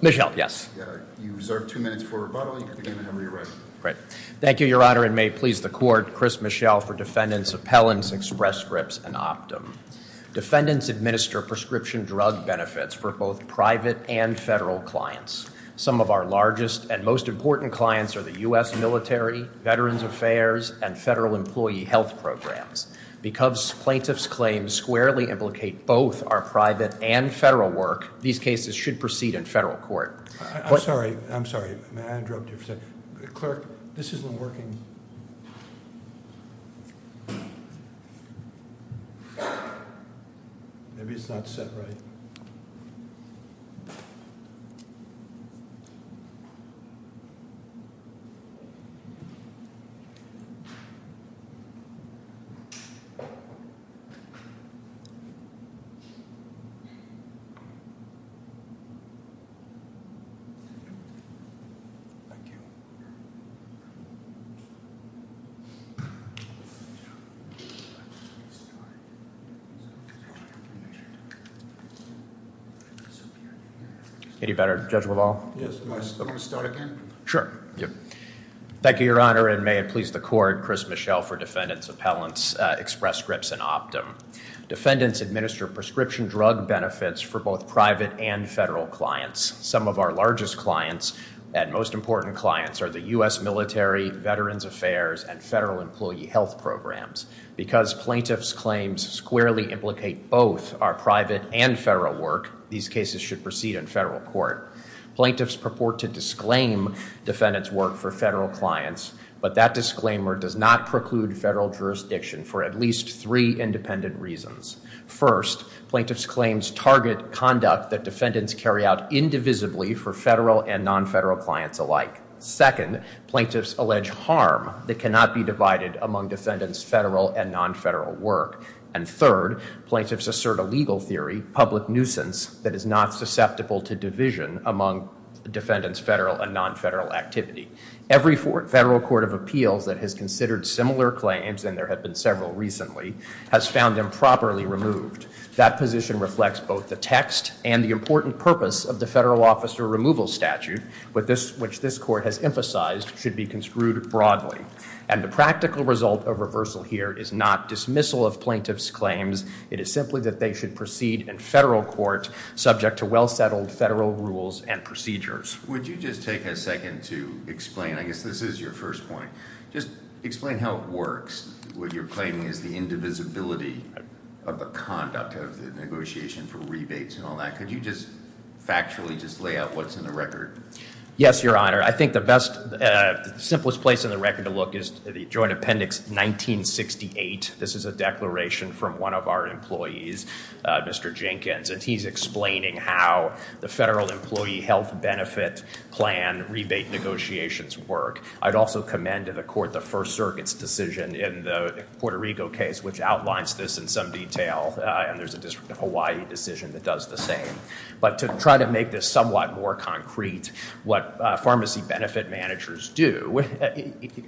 Michelle, yes. You reserve two minutes for rebuttal. You can begin whenever you're ready. Thank you, Your Honor, and may it please the Court. Chris Michel for Defendants Appellants, Express Scripts, and Optum. Defendants administer prescription drug benefits for both private and federal clients. Some of our largest and most important clients are the U.S. military, Veterans Affairs, and federal employee health programs. Because plaintiffs' claims squarely implicate both our private and federal work, these cases should proceed in federal court. I'm sorry. I'm sorry. May I interrupt you for a second? Clerk, this isn't working. Maybe it's not set right. Thank you. Thank you, Your Honor, and may it please the Court. Chris Michel for Defendants Appellants, Express Scripts, and Optum. Defendants administer prescription drug benefits for both private and federal clients. Some of our largest and most important clients are the U.S. military, Veterans Affairs, and federal employee health programs. Because plaintiffs' claims squarely implicate both our private and federal work, these cases should proceed in federal court. Plaintiffs purport to disclaim defendants' work for federal clients, but that disclaimer does not preclude federal jurisdiction for at least three independent reasons. First, plaintiffs' claims target conduct that defendants carry out indivisibly for federal and non-federal clients alike. Second, plaintiffs allege harm that cannot be divided among defendants' federal and non-federal work. And third, plaintiffs assert a legal theory, public nuisance, that is not susceptible to division among defendants' federal and non-federal activity. Every federal court of appeals that has considered similar claims, and there have been several recently, has found improperly removed. That position reflects both the text and the important purpose of the federal officer removal statute, which this court has emphasized should be construed broadly. And the practical result of reversal here is not dismissal of plaintiffs' claims. It is simply that they should proceed in federal court subject to well-settled federal rules and procedures. Would you just take a second to explain? I guess this is your first point. Just explain how it works, what you're claiming is the indivisibility of the conduct of the negotiation for rebates and all that. Could you just factually just lay out what's in the record? Yes, Your Honor. I think the best, simplest place in the record to look is the Joint Appendix 1968. This is a declaration from one of our employees, Mr. Jenkins, and he's explaining how the federal employee health benefit plan rebate negotiations work. I'd also commend to the court the First Circuit's decision in the Puerto Rico case, which outlines this in some detail, and there's a district of Hawaii decision that does the same. But to try to make this somewhat more concrete, what pharmacy benefit managers do,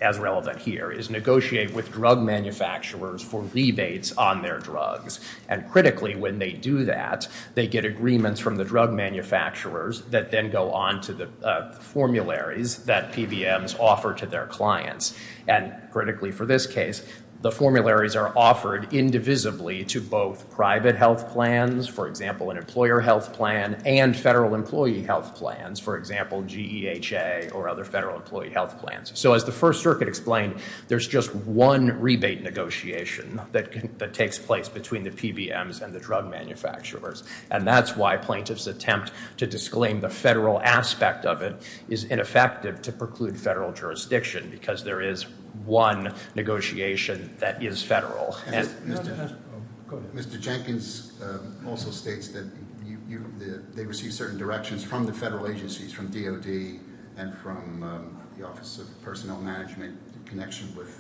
as relevant here, is negotiate with drug manufacturers for rebates on their drugs. And critically, when they do that, they get agreements from the drug manufacturers that then go on to the formularies that PBMs offer to their clients. And critically for this case, the formularies are offered indivisibly to both private health plans, for example, an employer health plan, and federal employee health plans, for example, GEHA or other federal employee health plans. So as the First Circuit explained, there's just one rebate negotiation that takes place between the PBMs and the drug manufacturers. And that's why plaintiff's attempt to disclaim the federal aspect of it is ineffective to preclude federal jurisdiction, because there is one negotiation that is federal. Mr. Jenkins also states that they receive certain directions from the federal agencies, from DOD and from the Office of Personnel Management in connection with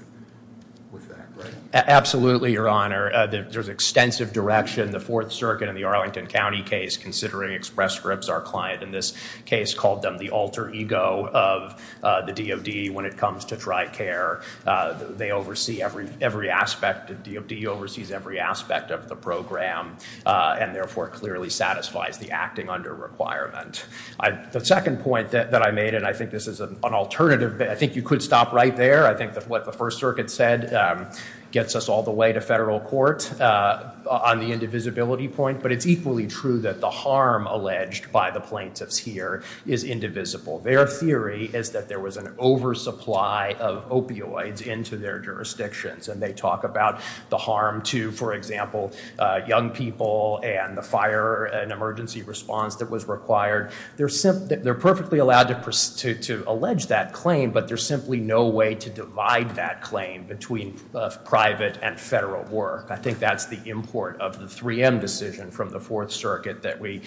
that, right? Absolutely, Your Honor. There's extensive direction. The Fourth Circuit in the Arlington County case, considering express scripts, our client in this case called them the alter ego of the DOD when it comes to dry care. They oversee every aspect. The DOD oversees every aspect of the program, and therefore clearly satisfies the acting under requirement. The second point that I made, and I think this is an alternative. I think you could stop right there. I think that what the First Circuit said gets us all the way to federal court on the indivisibility point. But it's equally true that the harm alleged by the plaintiffs here is indivisible. Their theory is that there was an oversupply of opioids into their jurisdictions. And they talk about the harm to, for example, young people and the fire and emergency response that was required. They're perfectly allowed to allege that claim, but there's simply no way to divide that claim between private and federal work. I think that's the import of the 3M decision from the Fourth Circuit that we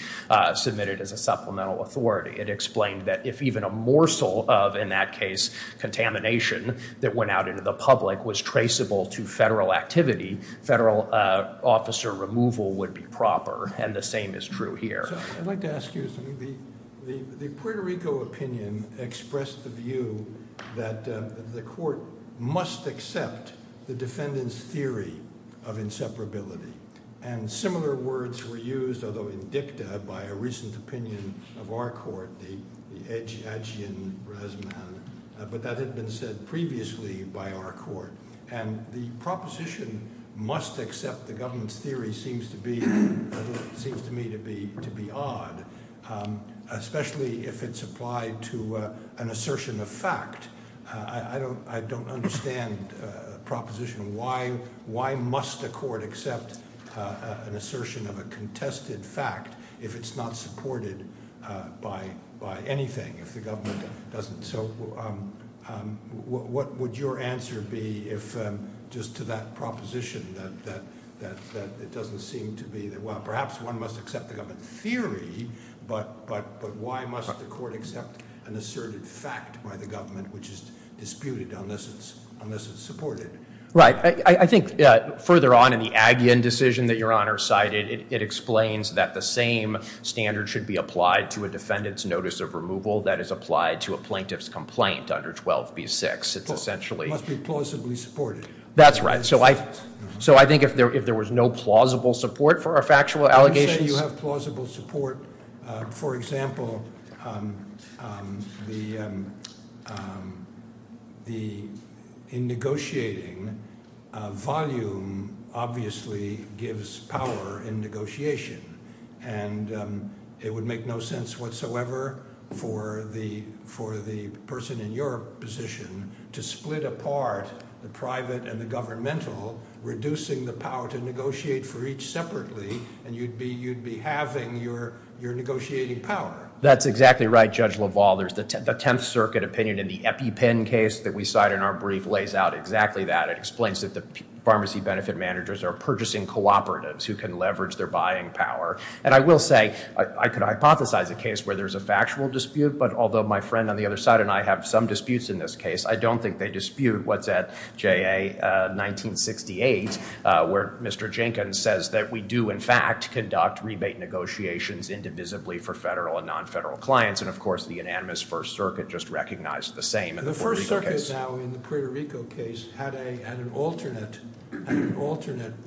submitted as a supplemental authority. It explained that if even a morsel of, in that case, contamination that went out into the public was traceable to federal activity, federal officer removal would be proper. And the same is true here. I'd like to ask you something. The Puerto Rico opinion expressed the view that the court must accept the defendant's theory of inseparability. And similar words were used, although in dicta, by a recent opinion of our court, the Adjian-Rasman. But that had been said previously by our court. And the proposition must accept the government's theory seems to me to be odd, especially if it's applied to an assertion of fact. I don't understand the proposition. Why must a court accept an assertion of a contested fact if it's not supported by anything, if the government doesn't? So what would your answer be just to that proposition that it doesn't seem to be that, well, perhaps one must accept the government's theory, but why must the court accept an asserted fact by the government which is disputed unless it's supported? Right. I think further on in the Adjian decision that Your Honor cited, it explains that the same standard should be applied to a defendant's notice of removal that is applied to a plaintiff's complaint under 12b-6. It's essentially- Must be plausibly supported. That's right. So I think if there was no plausible support for a factual allegation- You say you have plausible support. For example, in negotiating, volume obviously gives power in negotiation, and it would make no sense whatsoever for the person in your position to split apart the private and the governmental, reducing the power to negotiate for each separately, and you'd be halving your negotiating power. That's exactly right, Judge LaValle. There's the Tenth Circuit opinion in the EpiPen case that we cite in our brief lays out exactly that. It explains that the pharmacy benefit managers are purchasing cooperatives who can leverage their buying power. And I will say I could hypothesize a case where there's a factual dispute, but although my friend on the other side and I have some disputes in this case, I don't think they dispute what's at JA 1968 where Mr. Jenkins says that we do in fact conduct rebate negotiations indivisibly for federal and non-federal clients, and of course the unanimous First Circuit just recognized the same in the Puerto Rico case. This case had an alternate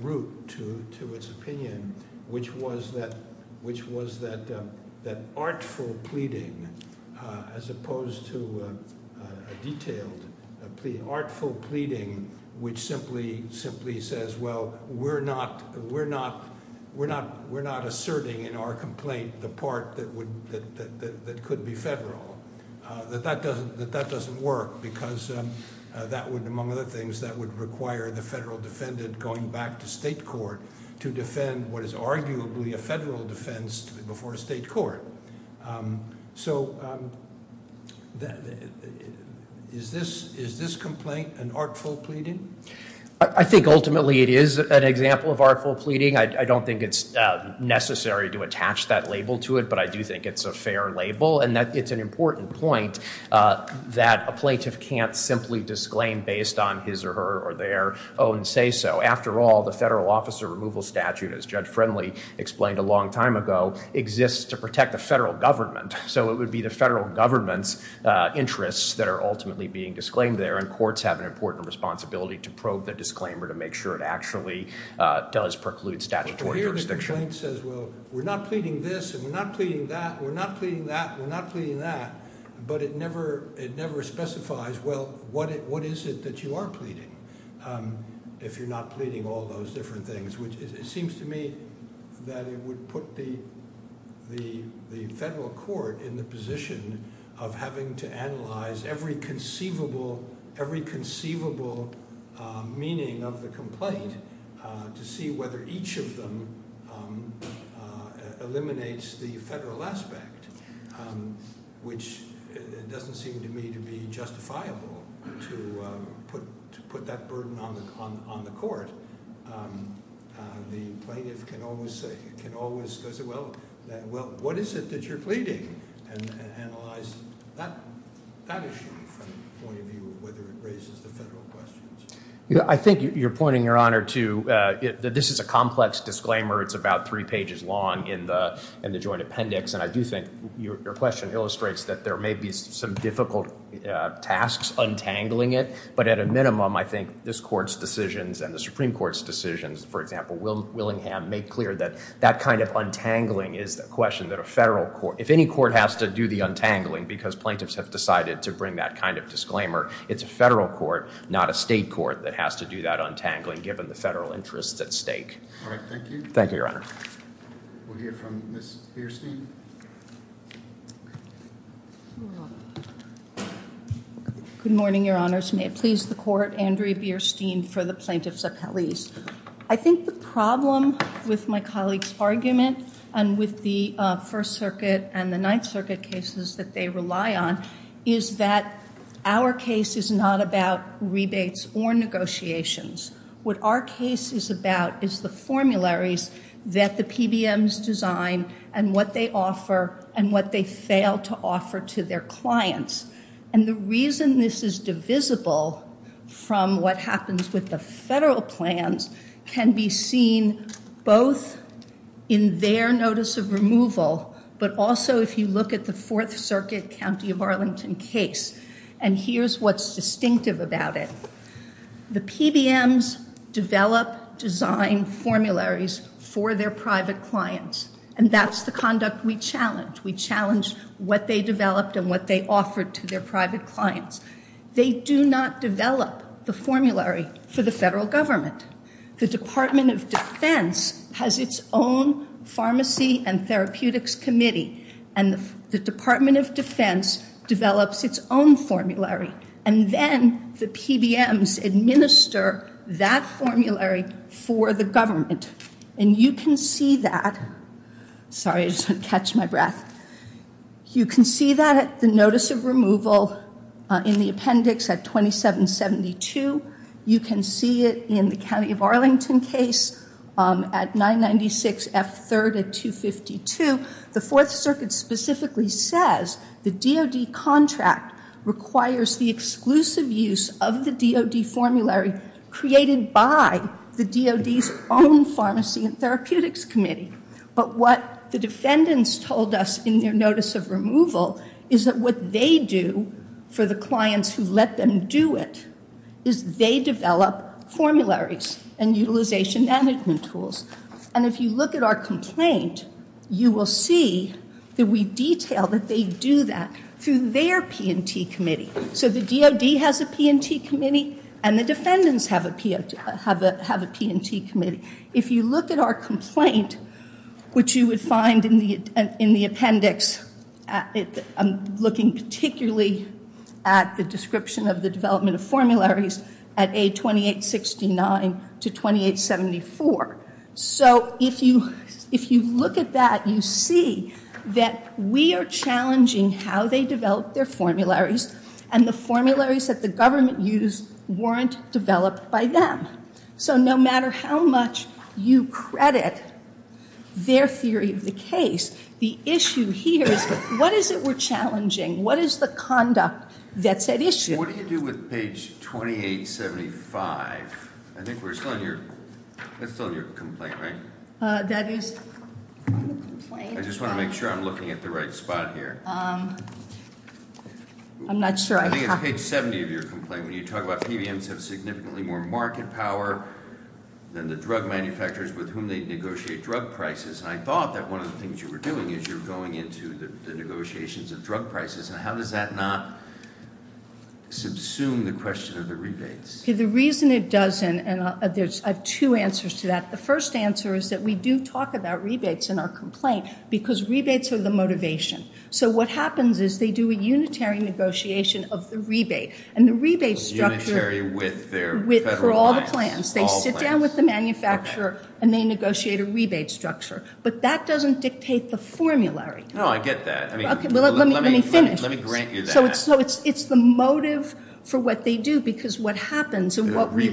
route to its opinion, which was that artful pleading as opposed to a detailed plea, artful pleading which simply says, well, we're not asserting in our complaint the part that could be federal, that that doesn't work because that would, among other things, that would require the federal defendant going back to state court to defend what is arguably a federal defense before a state court. So is this complaint an artful pleading? I think ultimately it is an example of artful pleading. I don't think it's necessary to attach that label to it, but I do think it's a fair label, and that it's an important point that a plaintiff can't simply disclaim based on his or her or their own say-so. After all, the federal officer removal statute, as Judge Friendly explained a long time ago, exists to protect the federal government. So it would be the federal government's interests that are ultimately being disclaimed there, and courts have an important responsibility to probe the disclaimer to make sure it actually does preclude statutory jurisdiction. But here the complaint says, well, we're not pleading this, and we're not pleading that, and we're not pleading that, and we're not pleading that, but it never specifies, well, what is it that you are pleading if you're not pleading all those different things, which it seems to me that it would put the federal court in the position of having to analyze every conceivable meaning of the complaint to see whether each of them eliminates the federal aspect, which doesn't seem to me to be justifiable to put that burden on the court. The plaintiff can always say, well, what is it that you're pleading, and analyze that issue from the point of view of whether it raises the federal questions. I think you're pointing, Your Honor, to – this is a complex disclaimer. It's about three pages long in the joint appendix, and I do think your question illustrates that there may be some difficult tasks untangling it, but at a minimum, I think this court's decisions and the Supreme Court's decisions, for example, Willingham, make clear that that kind of untangling is a question that a federal court – if any court has to do the untangling because plaintiffs have decided to bring that kind of disclaimer, it's a federal court, not a state court, that has to do that untangling given the federal interests at stake. All right. Thank you. Thank you, Your Honor. We'll hear from Ms. Bierstein. Good morning, Your Honors. May it please the Court. Andrea Bierstein for the Plaintiff's Appellees. I think the problem with my colleague's argument and with the First Circuit and the Ninth Circuit cases that they rely on is that our case is not about rebates or negotiations. What our case is about is the formularies that the PBMs design and what they offer. And what they fail to offer to their clients. And the reason this is divisible from what happens with the federal plans can be seen both in their notice of removal, but also if you look at the Fourth Circuit County of Arlington case. And here's what's distinctive about it. The PBMs develop design formularies for their private clients. And that's the conduct we challenge. We challenge what they developed and what they offered to their private clients. They do not develop the formulary for the federal government. The Department of Defense has its own Pharmacy and Therapeutics Committee. And the Department of Defense develops its own formulary. And then the PBMs administer that formulary for the government. And you can see that. Sorry, I just want to catch my breath. You can see that at the notice of removal in the appendix at 2772. You can see it in the County of Arlington case at 996F3 at 252. The Fourth Circuit specifically says the DOD contract requires the exclusive use of the DOD formulary created by the DOD's own Pharmacy and Therapeutics Committee. But what the defendants told us in their notice of removal is that what they do for the clients who let them do it is they develop formularies and utilization management tools. And if you look at our complaint, you will see that we detail that they do that through their P&T Committee. So the DOD has a P&T Committee and the defendants have a P&T Committee. If you look at our complaint, which you would find in the appendix, I'm looking particularly at the description of the development of formularies at A2869 to 2874. So if you look at that, you see that we are challenging how they develop their formularies and the formularies that the government used weren't developed by them. So no matter how much you credit their theory of the case, the issue here is what is it we're challenging? What is the conduct that's at issue? What do you do with page 2875? I think we're still on your complaint, right? That is on the complaint. I just want to make sure I'm looking at the right spot here. I'm not sure. I think it's page 70 of your complaint when you talk about PBMs have significantly more market power than the drug manufacturers with whom they negotiate drug prices. And I thought that one of the things you were doing is you were going into the negotiations of drug prices. And how does that not subsume the question of the rebates? The reason it doesn't, and I have two answers to that, the first answer is that we do talk about rebates in our complaint because rebates are the motivation. So what happens is they do a unitary negotiation of the rebate. And the rebate structure for all the plans. They sit down with the manufacturer and they negotiate a rebate structure. But that doesn't dictate the formulary. Oh, I get that. Let me finish. Let me grant you that. So it's the motive for what they do because what happens is what we've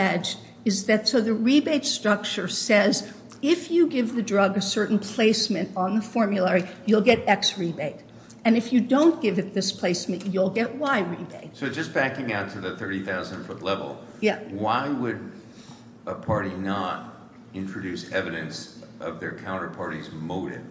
alleged is that so the rebate structure says if you give the drug a certain placement on the formulary, you'll get X rebate. And if you don't give it this placement, you'll get Y rebate. So just backing out to the 30,000-foot level, why would a party not introduce evidence of their counterparty's motive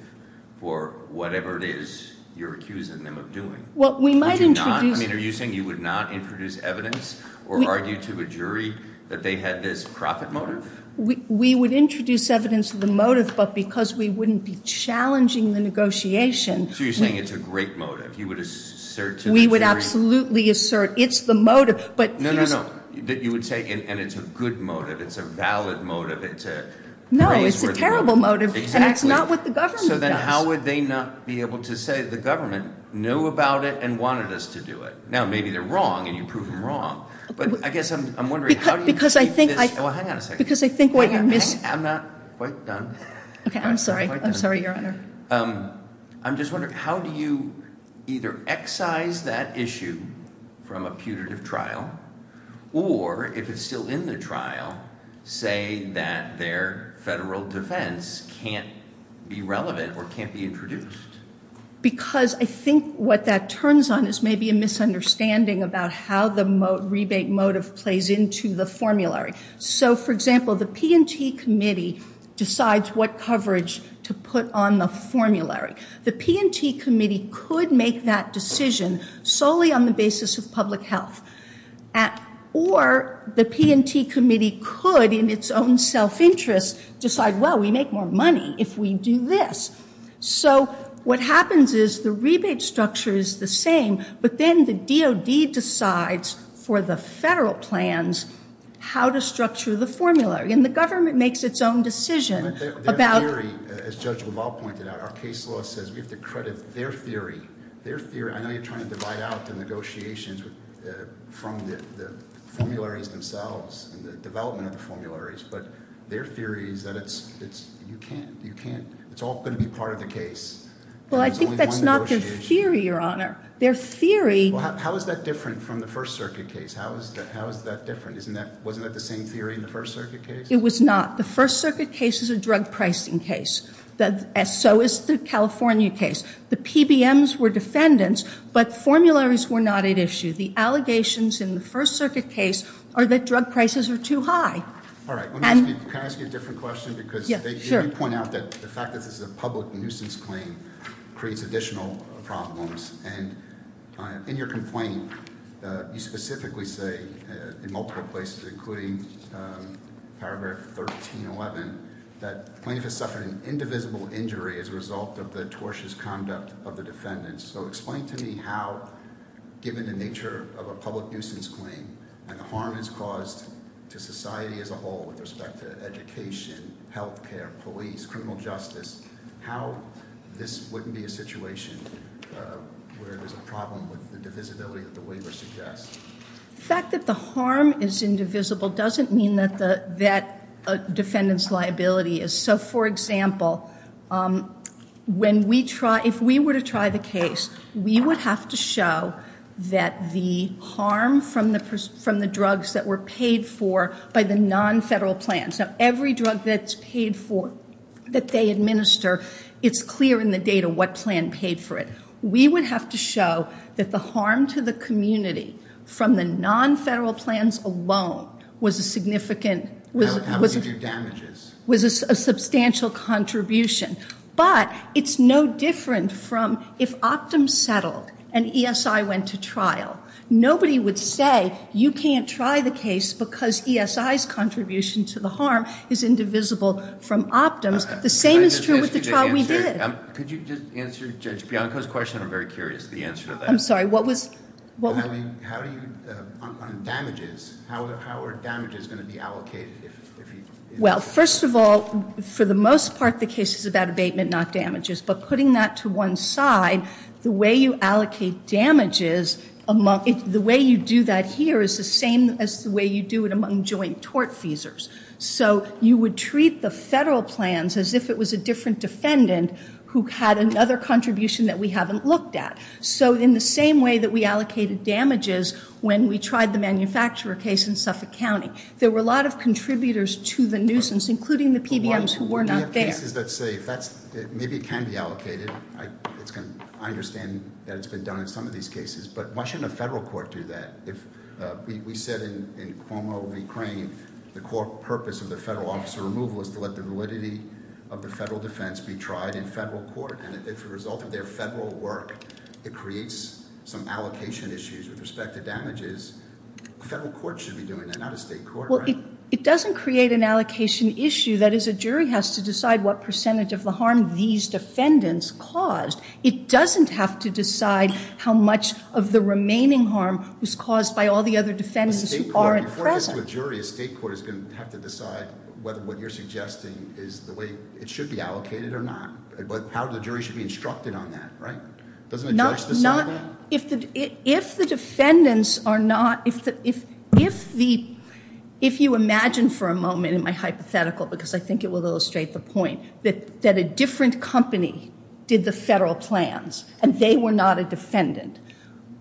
for whatever it is you're accusing them of doing? Well, we might introduce- I mean, are you saying you would not introduce evidence or argue to a jury that they had this profit motive? We would introduce evidence of the motive, but because we wouldn't be challenging the negotiation- So you're saying it's a great motive. You would assert to the jury- We would absolutely assert it's the motive, but- No, no, no. You would say, and it's a good motive. It's a valid motive. It's a praiseworthy motive. No, it's a terrible motive. Exactly. And it's not what the government does. So then how would they not be able to say the government knew about it and wanted us to do it? Now, maybe they're wrong and you prove them wrong. But I guess I'm wondering how do you keep this- Because I think I- Well, hang on a second. Because I think what you're missing- I'm not quite done. Okay. I'm sorry. I'm sorry, Your Honor. I'm just wondering how do you either excise that issue from a putative trial or, if it's still in the trial, say that their federal defense can't be relevant or can't be introduced? Because I think what that turns on is maybe a misunderstanding about how the rebate motive plays into the formulary. So, for example, the P&T Committee decides what coverage to put on the formulary. The P&T Committee could make that decision solely on the basis of public health, or the P&T Committee could, in its own self-interest, decide, well, we make more money if we do this. So what happens is the rebate structure is the same, but then the DOD decides for the federal plans how to structure the formulary, and the government makes its own decision about- Their theory, as Judge Leval pointed out, our case law says we have to credit their theory. I know you're trying to divide out the negotiations from the formularies themselves and the development of the formularies, but their theory is that it's all going to be part of the case. Well, I think that's not their theory, Your Honor. Their theory- Well, how is that different from the First Circuit case? How is that different? Wasn't that the same theory in the First Circuit case? It was not. The First Circuit case is a drug pricing case. So is the California case. The PBMs were defendants, but formularies were not at issue. The allegations in the First Circuit case are that drug prices are too high. All right. Can I ask you a different question? Yeah, sure. You already point out that the fact that this is a public nuisance claim creates additional problems. And in your complaint, you specifically say in multiple places, including Paragraph 1311, that plaintiff has suffered an indivisible injury as a result of the tortious conduct of the defendants. So explain to me how, given the nature of a public nuisance claim, and the harm it's caused to society as a whole with respect to education, health care, police, criminal justice, how this wouldn't be a situation where there's a problem with the divisibility that the waiver suggests. The fact that the harm is indivisible doesn't mean that a defendant's liability is. So, for example, if we were to try the case, we would have to show that the harm from the drugs that were paid for by the non-federal plans. Now, every drug that's paid for, that they administer, it's clear in the data what plan paid for it. We would have to show that the harm to the community from the non-federal plans alone was a significant- How many did you do damages? Was a substantial contribution. But it's no different from if Optum settled and ESI went to trial. Nobody would say you can't try the case because ESI's contribution to the harm is indivisible from Optum's. The same is true with the trial we did. Could you just answer Judge Bianco's question? I'm very curious the answer to that. I'm sorry, what was- I mean, how do you, on damages, how are damages going to be allocated if- Well, first of all, for the most part, the case is about abatement, not damages. But putting that to one side, the way you allocate damages, the way you do that here is the same as the way you do it among joint tort feasors. So you would treat the federal plans as if it was a different defendant who had another contribution that we haven't looked at. So in the same way that we allocated damages when we tried the manufacturer case in Suffolk County, there were a lot of contributors to the nuisance, including the PBMs who were not there. We have cases that say, maybe it can be allocated. I understand that it's been done in some of these cases. But why shouldn't a federal court do that? We said in Cuomo v. Crane the core purpose of the federal officer removal is to let the validity of the federal defense be tried in federal court. And if the result of their federal work, it creates some allocation issues with respect to damages, a federal court should be doing that, not a state court, right? Well, it doesn't create an allocation issue. That is, a jury has to decide what percentage of the harm these defendants caused. It doesn't have to decide how much of the remaining harm was caused by all the other defendants who aren't present. A state court, before it gets to a jury, a state court is going to have to decide whether what you're suggesting is the way it should be allocated or not. How the jury should be instructed on that, right? Doesn't a judge decide that? Well, if the defendants are not, if you imagine for a moment in my hypothetical, because I think it will illustrate the point, that a different company did the federal plans and they were not a defendant,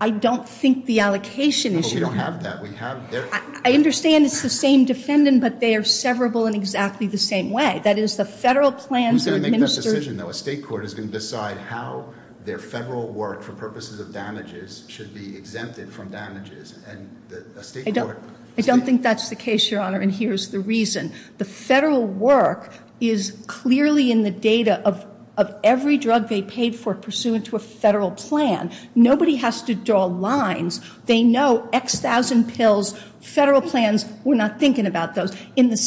I don't think the allocation issue. No, we don't have that. I understand it's the same defendant, but they are severable in exactly the same way. That is, the federal plans are administered. A state court is going to decide how their federal work for purposes of damages should be exempted from damages. I don't think that's the case, Your Honor, and here's the reason. The federal work is clearly in the data of every drug they paid for pursuant to a federal plan. Nobody has to draw lines. They know X thousand pills, federal plans, we're not thinking about those. In the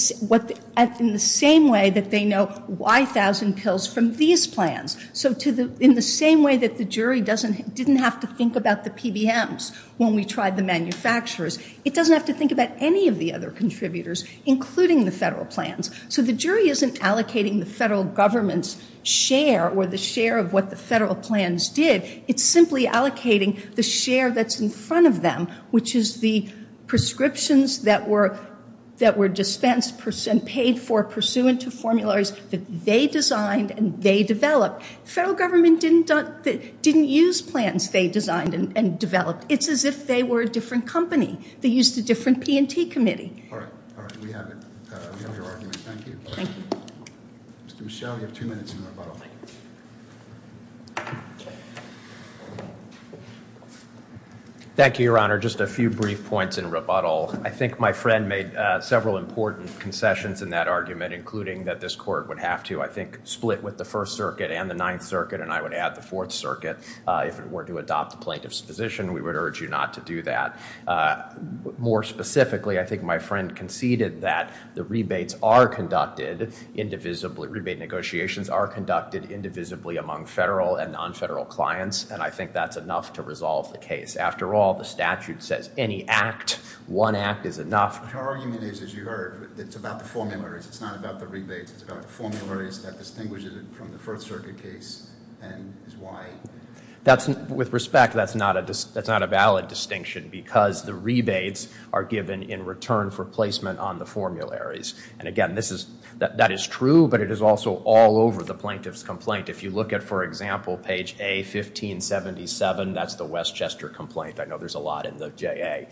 same way that they know Y thousand pills from these plans, so in the same way that the jury didn't have to think about the PBMs when we tried the manufacturers, it doesn't have to think about any of the other contributors, including the federal plans. So the jury isn't allocating the federal government's share or the share of what the federal plans did. It's simply allocating the share that's in front of them, which is the prescriptions that were dispensed and paid for pursuant to formularies that they designed and they developed. The federal government didn't use plans they designed and developed. It's as if they were a different company. They used a different P&T committee. All right. All right. We have it. We have your argument. Thank you. Thank you. Mr. Michel, you have two minutes in rebuttal. Thank you, Your Honor. Just a few brief points in rebuttal. I think my friend made several important concessions in that argument, including that this court would have to, I think, split with the First Circuit and the Ninth Circuit, and I would add the Fourth Circuit. If it were to adopt the plaintiff's position, we would urge you not to do that. More specifically, I think my friend conceded that the rebates are conducted indivisibly, rebate negotiations are conducted indivisibly among federal and non-federal clients, and I think that's enough to resolve the case. After all, the statute says any act, one act is enough. Your argument is, as you heard, it's about the formularies. It's not about the rebates. It's about the formularies that distinguishes it from the First Circuit case and is why. With respect, that's not a valid distinction because the rebates are given in return for placement on the formularies. And again, that is true, but it is also all over the plaintiff's complaint. If you look at, for example, page A1577, that's the Westchester complaint. I know there's a lot in the JA.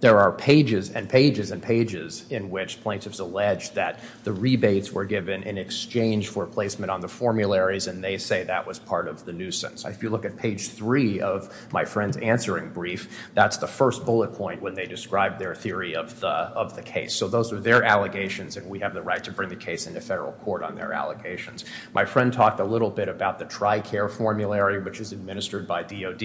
There are pages and pages and pages in which plaintiffs allege that the rebates were given in exchange for placement on the formularies, and they say that was part of the nuisance. If you look at page three of my friend's answering brief, that's the first bullet point when they describe their theory of the case. So those are their allegations, and we have the right to bring the case into federal court on their allegations. My friend talked a little bit about the TRICARE formulary, which is administered by DOD.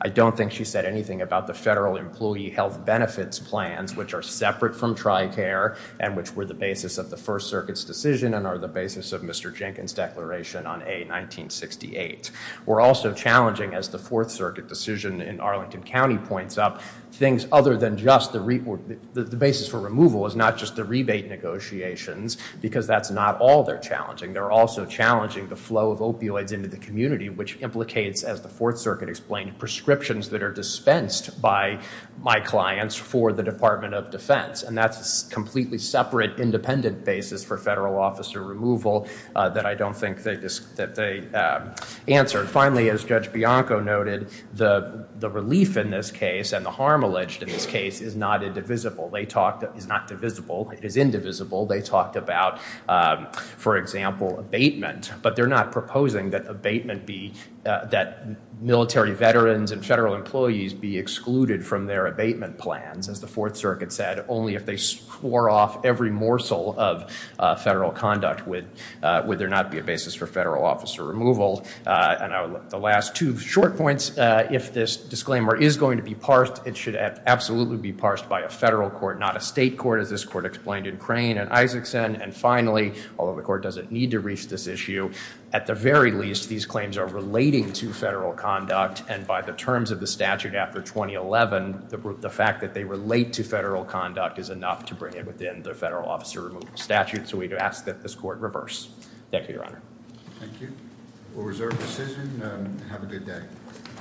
I don't think she said anything about the Federal Employee Health Benefits Plans, which are separate from TRICARE and which were the basis of the First Circuit's decision and are the basis of Mr. Jenkins' declaration on A1968. We're also challenging, as the Fourth Circuit decision in Arlington County points up, things other than just the basis for removal is not just the rebate negotiations, because that's not all they're challenging. They're also challenging the flow of opioids into the community, which implicates, as the Fourth Circuit explained, prescriptions that are dispensed by my clients for the Department of Defense. And that's a completely separate, independent basis for federal officer removal that I don't think they answered. Finally, as Judge Bianco noted, the relief in this case and the harm alleged in this case is not indivisible. It is not divisible. It is indivisible. They talked about, for example, abatement, but they're not proposing that abatement be, that military veterans and federal employees be excluded from their abatement plans, as the Fourth Circuit said, only if they swore off every morsel of federal conduct would there not be a basis for federal officer removal. And the last two short points, if this disclaimer is going to be parsed, it should absolutely be parsed by a federal court, not a state court, as this court explained in Crane and Isaacson. And finally, although the court doesn't need to reach this issue, at the very least, these claims are relating to federal conduct, and by the terms of the statute after 2011, the fact that they relate to federal conduct is enough to bring it within the federal officer removal statute. So we ask that this court reverse. Thank you, Your Honor. Thank you. We'll reserve decision. Have a good day.